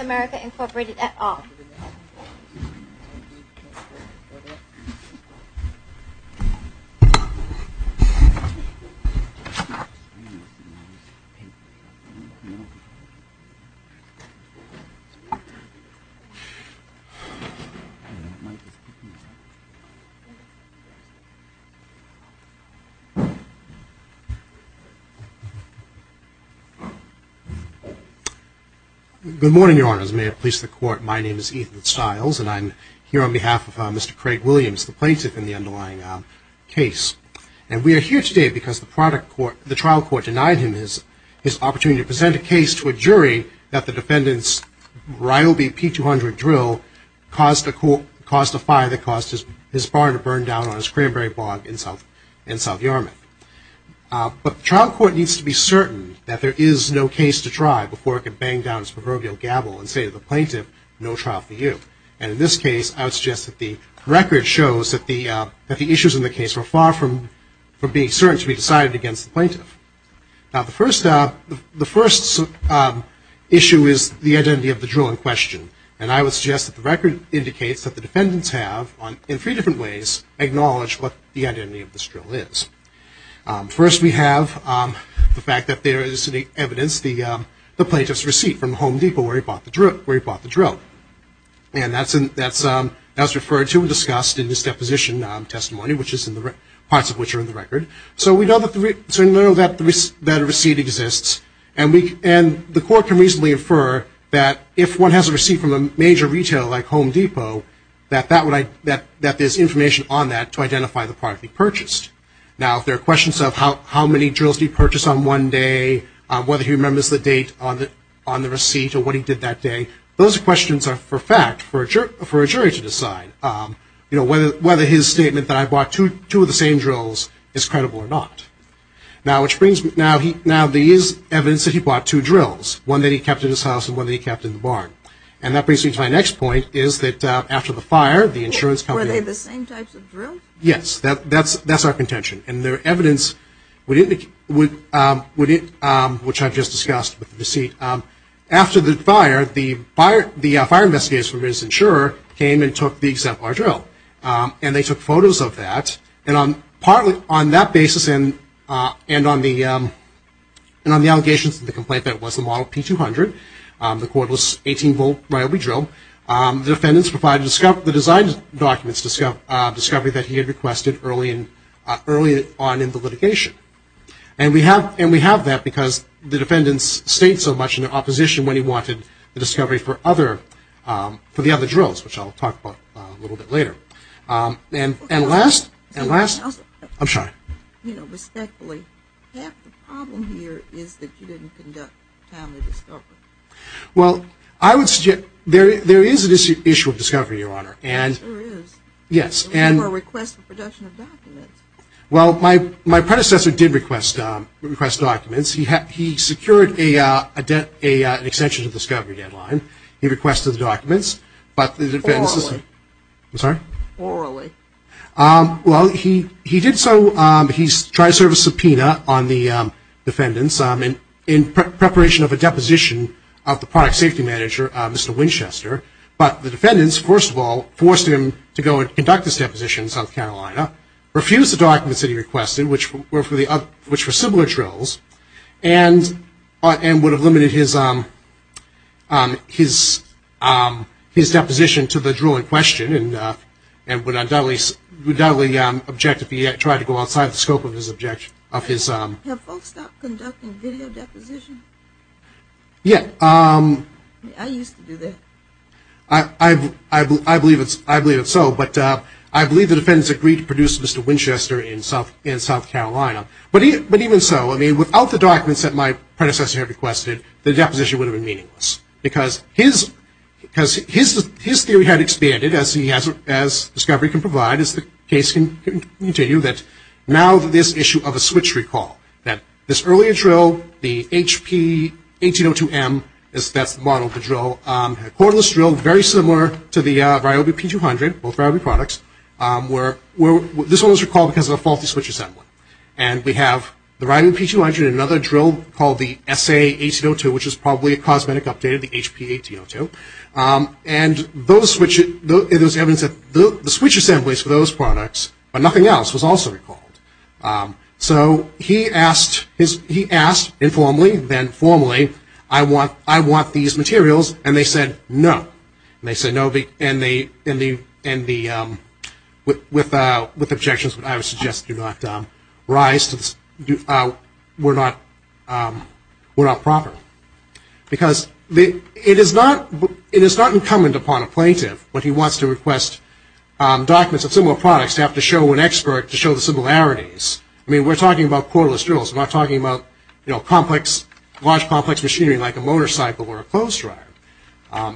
America Incorporated at all. Good morning, Your Honors. May it please the Court, my name is Ethan Stiles, and I'm here on behalf of Mr. Craig Williams, the plaintiff in the underlying case. And we are here today because the trial court denied him his opportunity to present a case to a jury that the defendant's Ryobi P200 drill caused a fire that caused his barn to burn down on a cranberry bog in South Yarmouth. But the trial court needs to be certain that there is no case to try before it can bang down its proverbial gavel and say to the plaintiff, no trial for you. And in this case, I would suggest that the record shows that the issues in the case were far from being certain to be decided against the plaintiff. Now, the first issue is the identity of the drill in question. And I would suggest that the record indicates that the defendants have, in three different ways, acknowledged what the identity of this drill is. First, we have the fact that there is evidence, the plaintiff's receipt from Home Depot where he bought the drill. And that's referred to and discussed in his deposition testimony, parts of which are in the record. So we know that a receipt exists, and the court can reasonably infer that if one has a receipt from a major retail like Home Depot, that there's information on that to identify the product he purchased. Now, if there are questions of how many drills did he purchase on one day, whether he remembers the date on the receipt or what he did that day, those questions are for fact for a jury to decide. Whether his statement that I bought two of the same drills is credible or not. Now, there is evidence that he bought two drills, one that he kept in his house and one that he kept in the barn. And that brings me to my next point, is that after the fire, the insurance company- Were they the same types of drills? Yes, that's our contention. And their evidence, which I've just discussed with the receipt. After the fire, the fire investigators from Business Insurer came and took the drill. And they took photos of that. And on that basis and on the allegations of the complaint that it was the model P200, the quote was 18-volt Ryobi drill, the defendants provided the design documents, discovery that he had requested early on in the litigation. And we have that because the defendants stayed so much in opposition when he wanted the discovery for the other drills, which I'll talk about a little bit later. And last- I'm sorry. You know, respectfully, half the problem here is that you didn't conduct a timely discovery. Well, I would suggest- there is an issue of discovery, Your Honor. Yes, there is. Yes, and- You never request the production of documents. Well, my predecessor did request documents. He secured an extension to the discovery deadline. He requested the documents, but the defendants- Orally. I'm sorry? Orally. Well, he did so. He tried to serve a subpoena on the defendants in preparation of a deposition of the product safety manager, Mr. Winchester. But the defendants, first of all, forced him to go and conduct this deposition in South Carolina, refused the documents that he requested, which were similar drills, and would have limited his deposition to the drill in question, and would undoubtedly object if he tried to go outside the scope of his- Have folks stopped conducting video depositions? Yeah. I used to do that. I believe it's so, but I believe the defendants agreed to produce Mr. Winchester in South Carolina. But even so, I mean, without the documents that my predecessor had requested, the deposition would have been meaningless, because his theory had expanded, as discovery can provide, as the case can continue, that now this issue of a switch recall, that this earlier drill, the HP 1802M, that's the model of the drill, a cordless drill very similar to the Ryobi P200, both Ryobi products, this one was recalled because of a faulty switch assembly. And we have the Ryobi P200 and another drill called the SA 1802, which is probably a cosmetic update of the HP 1802. And those switches, it was evidence that the switch assemblies for those products, but nothing else, was also recalled. So he asked informally, then formally, I want these materials, and they said no. And they said no, and they, with objections, but I would suggest do not rise to this, were not proper. Because it is not incumbent upon a plaintiff when he wants to request documents of similar products to have to show an expert to show the similarities. I mean, we're talking about cordless drills. We're not talking about, you know, complex, large, complex machinery like a motorcycle or a clothes dryer.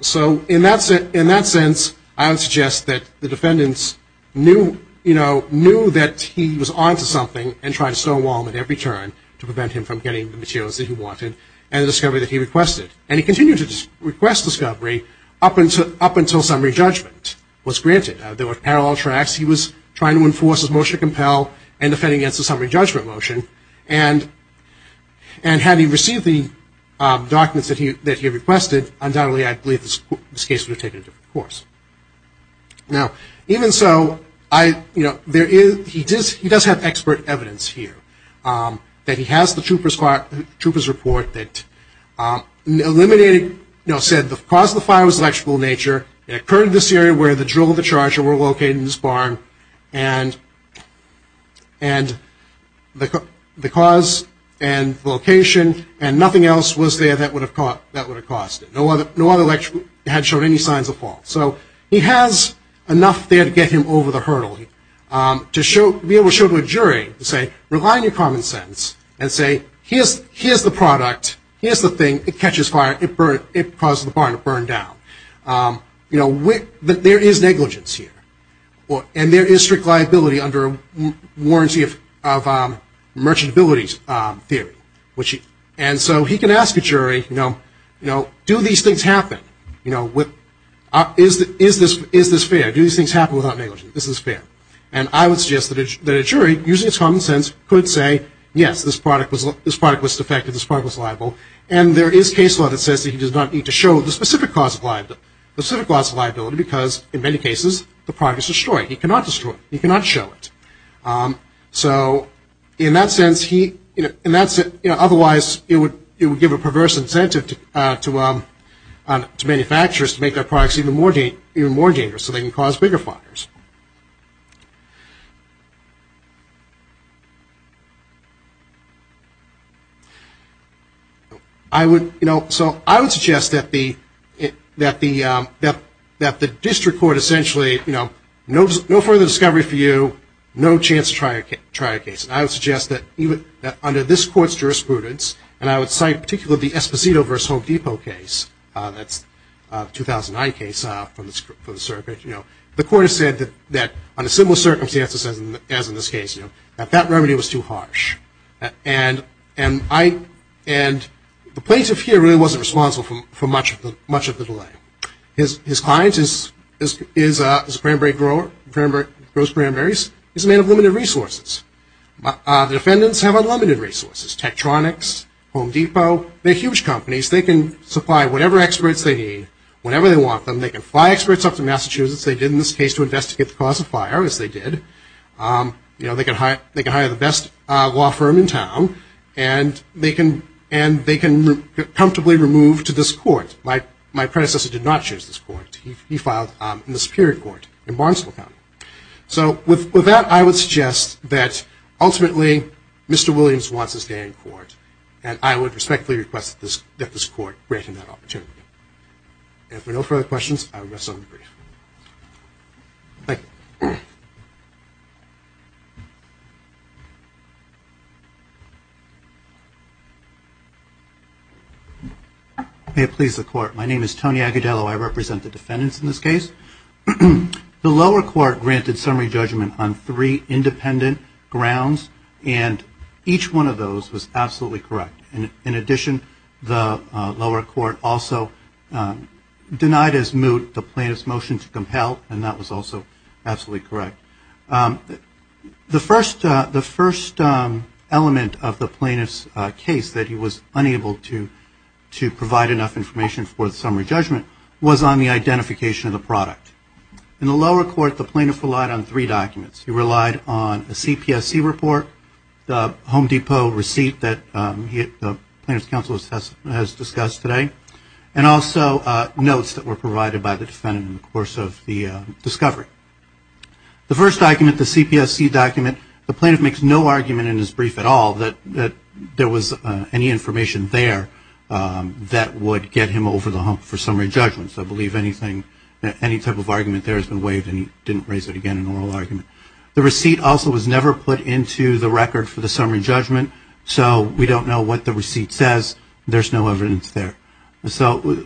So in that sense, I would suggest that the defendants knew, you know, knew that he was on to something and tried to stonewall him at every turn to prevent him from getting the materials that he wanted and the discovery that he requested. And he continued to request discovery up until summary judgment was granted. There were parallel tracks. He was trying to enforce his motion to compel and defend against the summary judgment motion. And had he received the documents that he requested, undoubtedly I believe this case would have taken a different course. Now, even so, I, you know, there is, he does have expert evidence here that he has the trooper's report that eliminated, you know, said the cause of the fire was electrical in nature. It occurred in this area where the drill and the charger were located in this barn. And the cause and location and nothing else was there that would have caused it. No other electrical had shown any signs of fault. So he has enough there to get him over the hurdle to be able to show to a jury, to say, rely on your common sense and say, here's the product, here's the thing, it catches fire, it caused the barn to burn down. You know, there is negligence here. And there is strict liability under a warranty of merchantability theory. And so he can ask a jury, you know, do these things happen? You know, is this fair? Do these things happen without negligence? Is this fair? And I would suggest that a jury, using its common sense, could say, yes, this product was defective, this product was liable. And there is case law that says he does not need to show the specific cause of liability because, in many cases, the product is destroyed. He cannot destroy it. He cannot show it. So in that sense, otherwise it would give a perverse incentive to manufacturers to make their products even more dangerous so they can cause bigger fires. I would, you know, so I would suggest that the district court essentially, you know, no further discovery for you, no chance to try a case. And I would suggest that under this court's jurisprudence, and I would cite particularly the Esposito v. Home Depot case, that's a 2009 case for the circuit, you know, the court has said that under similar circumstances as in this case, that that remedy was too harsh. And the plaintiff here really wasn't responsible for much of the delay. His client is a cranberry grower, grows cranberries. He's a man of limited resources. The defendants have unlimited resources, Tektronix, Home Depot. They're huge companies. They can supply whatever experts they need whenever they want them. They can fly experts up to Massachusetts. They did in this case to investigate the cause of fire, as they did. You know, they can hire the best law firm in town, and they can comfortably remove to this court. My predecessor did not choose this court. He filed in the superior court in Barnesville County. So with that, I would suggest that ultimately Mr. Williams wants his day in court, and I would respectfully request that this court grant him that opportunity. If there are no further questions, I will rest on the brief. Thank you. May it please the Court. My name is Tony Agudelo. I represent the defendants in this case. The lower court granted summary judgment on three independent grounds, and each one of those was absolutely correct. In addition, the lower court also denied as moot the plaintiff's motion to compel, and that was also absolutely correct. The first element of the plaintiff's case that he was unable to provide enough information for the summary judgment was on the identification of the product. In the lower court, the plaintiff relied on three documents. He relied on a CPSC report, the Home Depot receipt that the plaintiff's counsel has discussed today, and also notes that were provided by the defendant in the course of the discovery. The first document, the CPSC document, the plaintiff makes no argument in his brief at all that there was any information there that would get him over the hump for summary judgment. So I believe anything, any type of argument there has been waived and he didn't raise it again in the oral argument. The receipt also was never put into the record for the summary judgment, so we don't know what the receipt says. There's no evidence there. So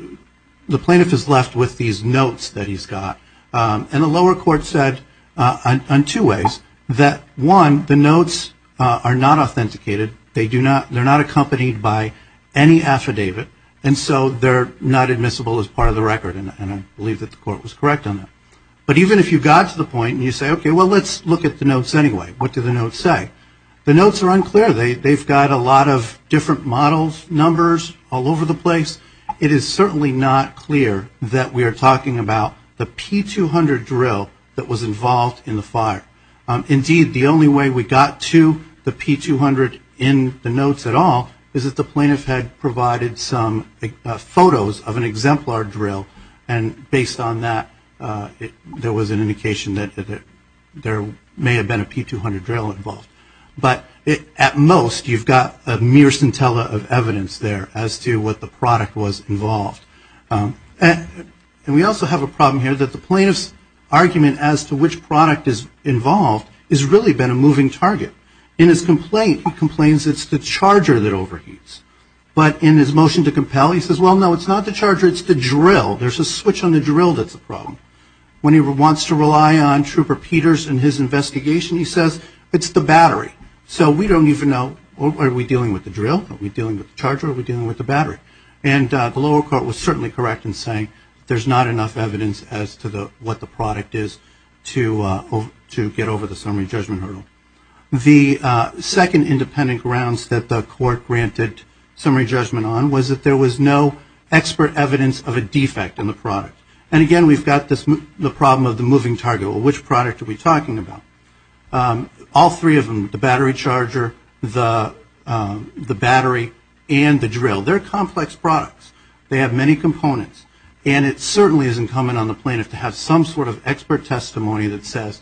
the plaintiff is left with these notes that he's got. And the lower court said on two ways that, one, the notes are not authenticated. They're not accompanied by any affidavit, and so they're not admissible as part of the record, and I believe that the court was correct on that. But even if you got to the point and you say, okay, well, let's look at the notes anyway. What do the notes say? The notes are unclear. They've got a lot of different models, numbers all over the place. It is certainly not clear that we are talking about the P-200 drill that was involved in the fire. Indeed, the only way we got to the P-200 in the notes at all is that the plaintiff had provided some photos of an exemplar drill, and based on that there was an indication that there may have been a P-200 drill involved. But at most you've got a mere scintilla of evidence there as to what the product was involved. And we also have a problem here that the plaintiff's argument as to which product is involved has really been a moving target. In his complaint, he complains it's the charger that overheats. But in his motion to compel, he says, well, no, it's not the charger. It's the drill. There's a switch on the drill that's the problem. When he wants to rely on Trooper Peters in his investigation, he says, it's the battery. So we don't even know, are we dealing with the drill? Are we dealing with the charger? Are we dealing with the battery? And the lower court was certainly correct in saying there's not enough evidence as to what the product is to get over the summary judgment hurdle. The second independent grounds that the court granted summary judgment on was that there was no expert evidence of a defect in the product. And, again, we've got the problem of the moving target. Well, which product are we talking about? All three of them, the battery charger, the battery, and the drill, they're complex products. They have many components. And it certainly isn't common on the plaintiff to have some sort of expert testimony that says,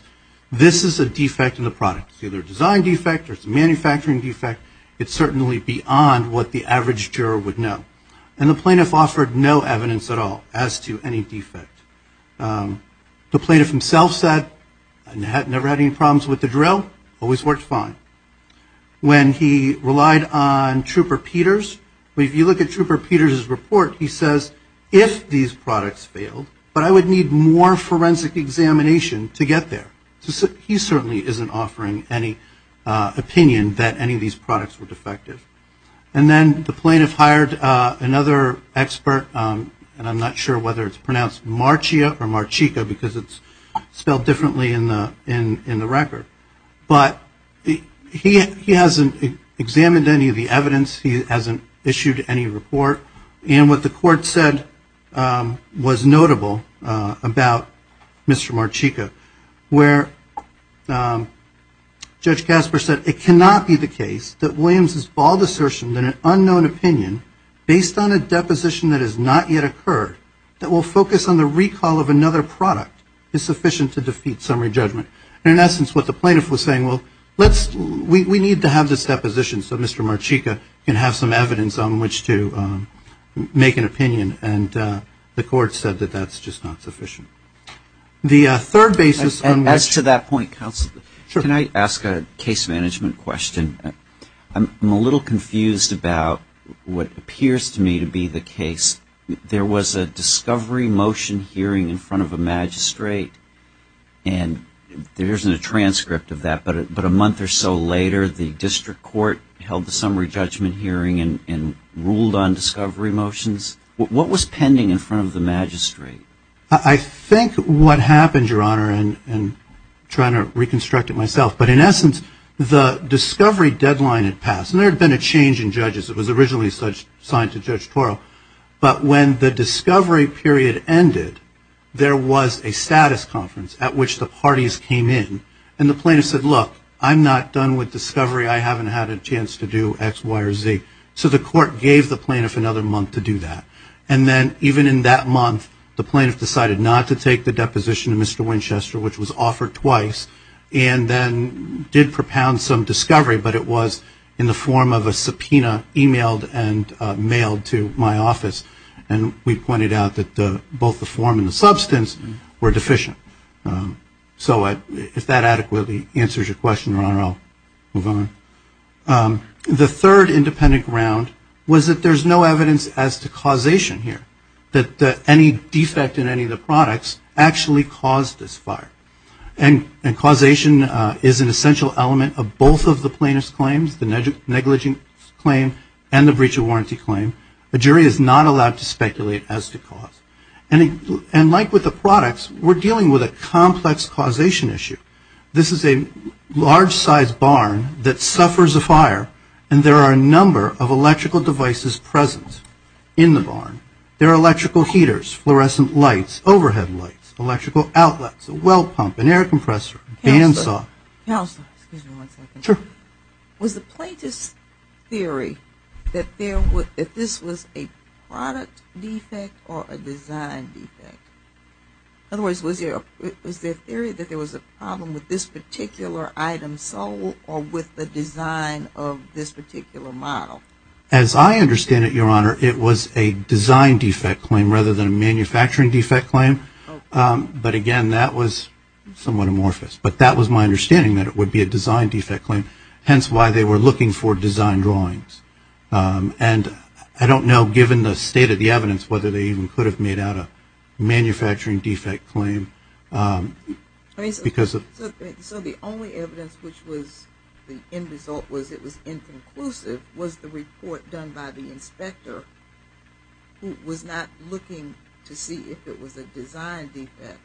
this is a defect in the product. It's either a design defect or it's a manufacturing defect. It's certainly beyond what the average juror would know. And the plaintiff offered no evidence at all as to any defect. The plaintiff himself said, never had any problems with the drill, always worked fine. When he relied on Trooper Peters, if you look at Trooper Peters' report, he says, if these products failed, but I would need more forensic examination to get there. He certainly isn't offering any opinion that any of these products were defective. And then the plaintiff hired another expert, and I'm not sure whether it's pronounced Marchia or Marchica because it's spelled differently in the record. But he hasn't examined any of the evidence. He hasn't issued any report. And what the court said was notable about Mr. Marchica, where Judge Casper said, it cannot be the case that Williams' bald assertion that an unknown opinion, based on a deposition that has not yet occurred, that will focus on the recall of another product, is sufficient to defeat summary judgment. And in essence, what the plaintiff was saying, well, we need to have this deposition. So Mr. Marchica can have some evidence on which to make an opinion. And the court said that that's just not sufficient. The third basis on which ‑‑ As to that point, counsel, can I ask a case management question? I'm a little confused about what appears to me to be the case. There was a discovery motion hearing in front of a magistrate, and there isn't a transcript of that. But a month or so later, the district court held the summary judgment hearing and ruled on discovery motions. What was pending in front of the magistrate? I think what happened, Your Honor, and trying to reconstruct it myself, but in essence, the discovery deadline had passed. And there had been a change in judges. It was originally assigned to Judge Toro. But when the discovery period ended, there was a status conference at which the parties came in. And the plaintiff said, look, I'm not done with discovery. I haven't had a chance to do X, Y, or Z. So the court gave the plaintiff another month to do that. And then even in that month, the plaintiff decided not to take the deposition to Mr. Winchester, which was offered twice, and then did propound some discovery, but it was in the form of a subpoena emailed and mailed to my office. And we pointed out that both the form and the substance were deficient. So if that adequately answers your question, Your Honor, I'll move on. The third independent ground was that there's no evidence as to causation here, that any defect in any of the products actually caused this fire. And causation is an essential element of both of the plaintiff's claims, the negligence claim and the breach of warranty claim. A jury is not allowed to speculate as to cause. And like with the products, we're dealing with a complex causation issue. This is a large-sized barn that suffers a fire, and there are a number of electrical devices present in the barn. There are electrical heaters, fluorescent lights, overhead lights, electrical outlets, a well pump, an air compressor, bandsaw. Counselor, excuse me one second. Sure. Was the plaintiff's theory that this was a product defect or a design defect? In other words, was there a theory that there was a problem with this particular item sold or with the design of this particular model? As I understand it, Your Honor, it was a design defect claim rather than a manufacturing defect claim. But again, that was somewhat amorphous. But that was my understanding, that it would be a design defect claim, hence why they were looking for design drawings. And I don't know, given the state of the evidence, whether they even could have made out a manufacturing defect claim. So the only evidence which was the end result was it was inconclusive, was the report done by the inspector who was not looking to see if it was a design defect.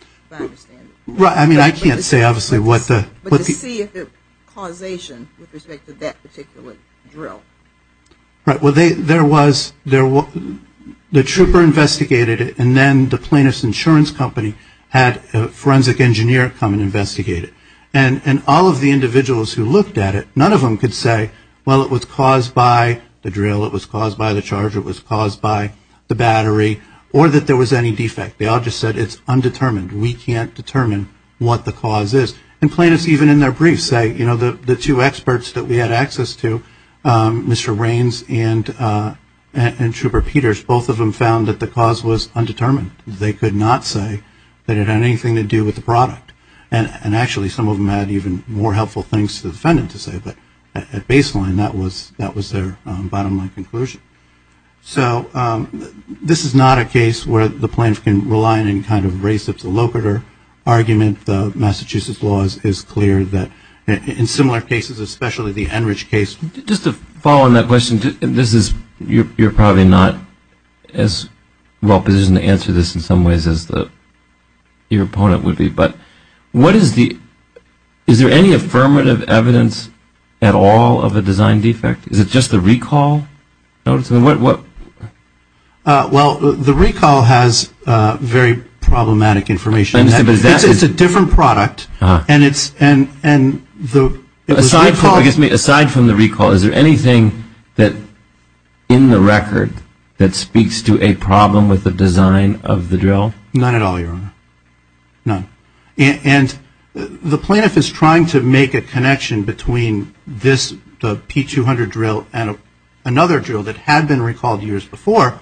If I understand it. Right. I mean, I can't say obviously what the... But to see if the causation with respect to that particular drill. Right. Well, there was, the trooper investigated it, and then the plaintiff's insurance company had a forensic engineer come and investigate it. And all of the individuals who looked at it, none of them could say, well, it was caused by the drill, it was caused by the charge, it was caused by the battery, or that there was any defect. They all just said it's undetermined. We can't determine what the cause is. And plaintiffs even in their briefs say, you know, the two experts that we had access to, Mr. Raines and Trooper Peters, both of them found that the cause was undetermined. And actually, some of them had even more helpful things for the defendant to say, but at baseline, that was their bottom line conclusion. So this is not a case where the plaintiff can rely on any kind of race. It's a locator argument. The Massachusetts law is clear that in similar cases, especially the Enrich case. Just to follow on that question, you're probably not as well positioned to answer this in some ways as your opponent would be. But is there any affirmative evidence at all of a design defect? Is it just the recall? Well, the recall has very problematic information. It's a different product. Aside from the recall, is there anything in the record that speaks to a problem with the design of the drill? None at all, Your Honor. None. And the plaintiff is trying to make a connection between this, the P-200 drill, and another drill that had been recalled years before.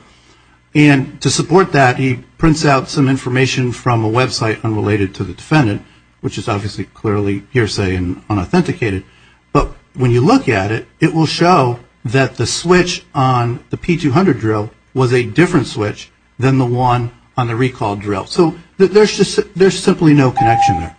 And to support that, he prints out some information from a website unrelated to the defendant, which is obviously clearly hearsay and unauthenticated. But when you look at it, it will show that the switch on the P-200 drill was a different switch than the one on the recalled drill. So there's simply no connection there.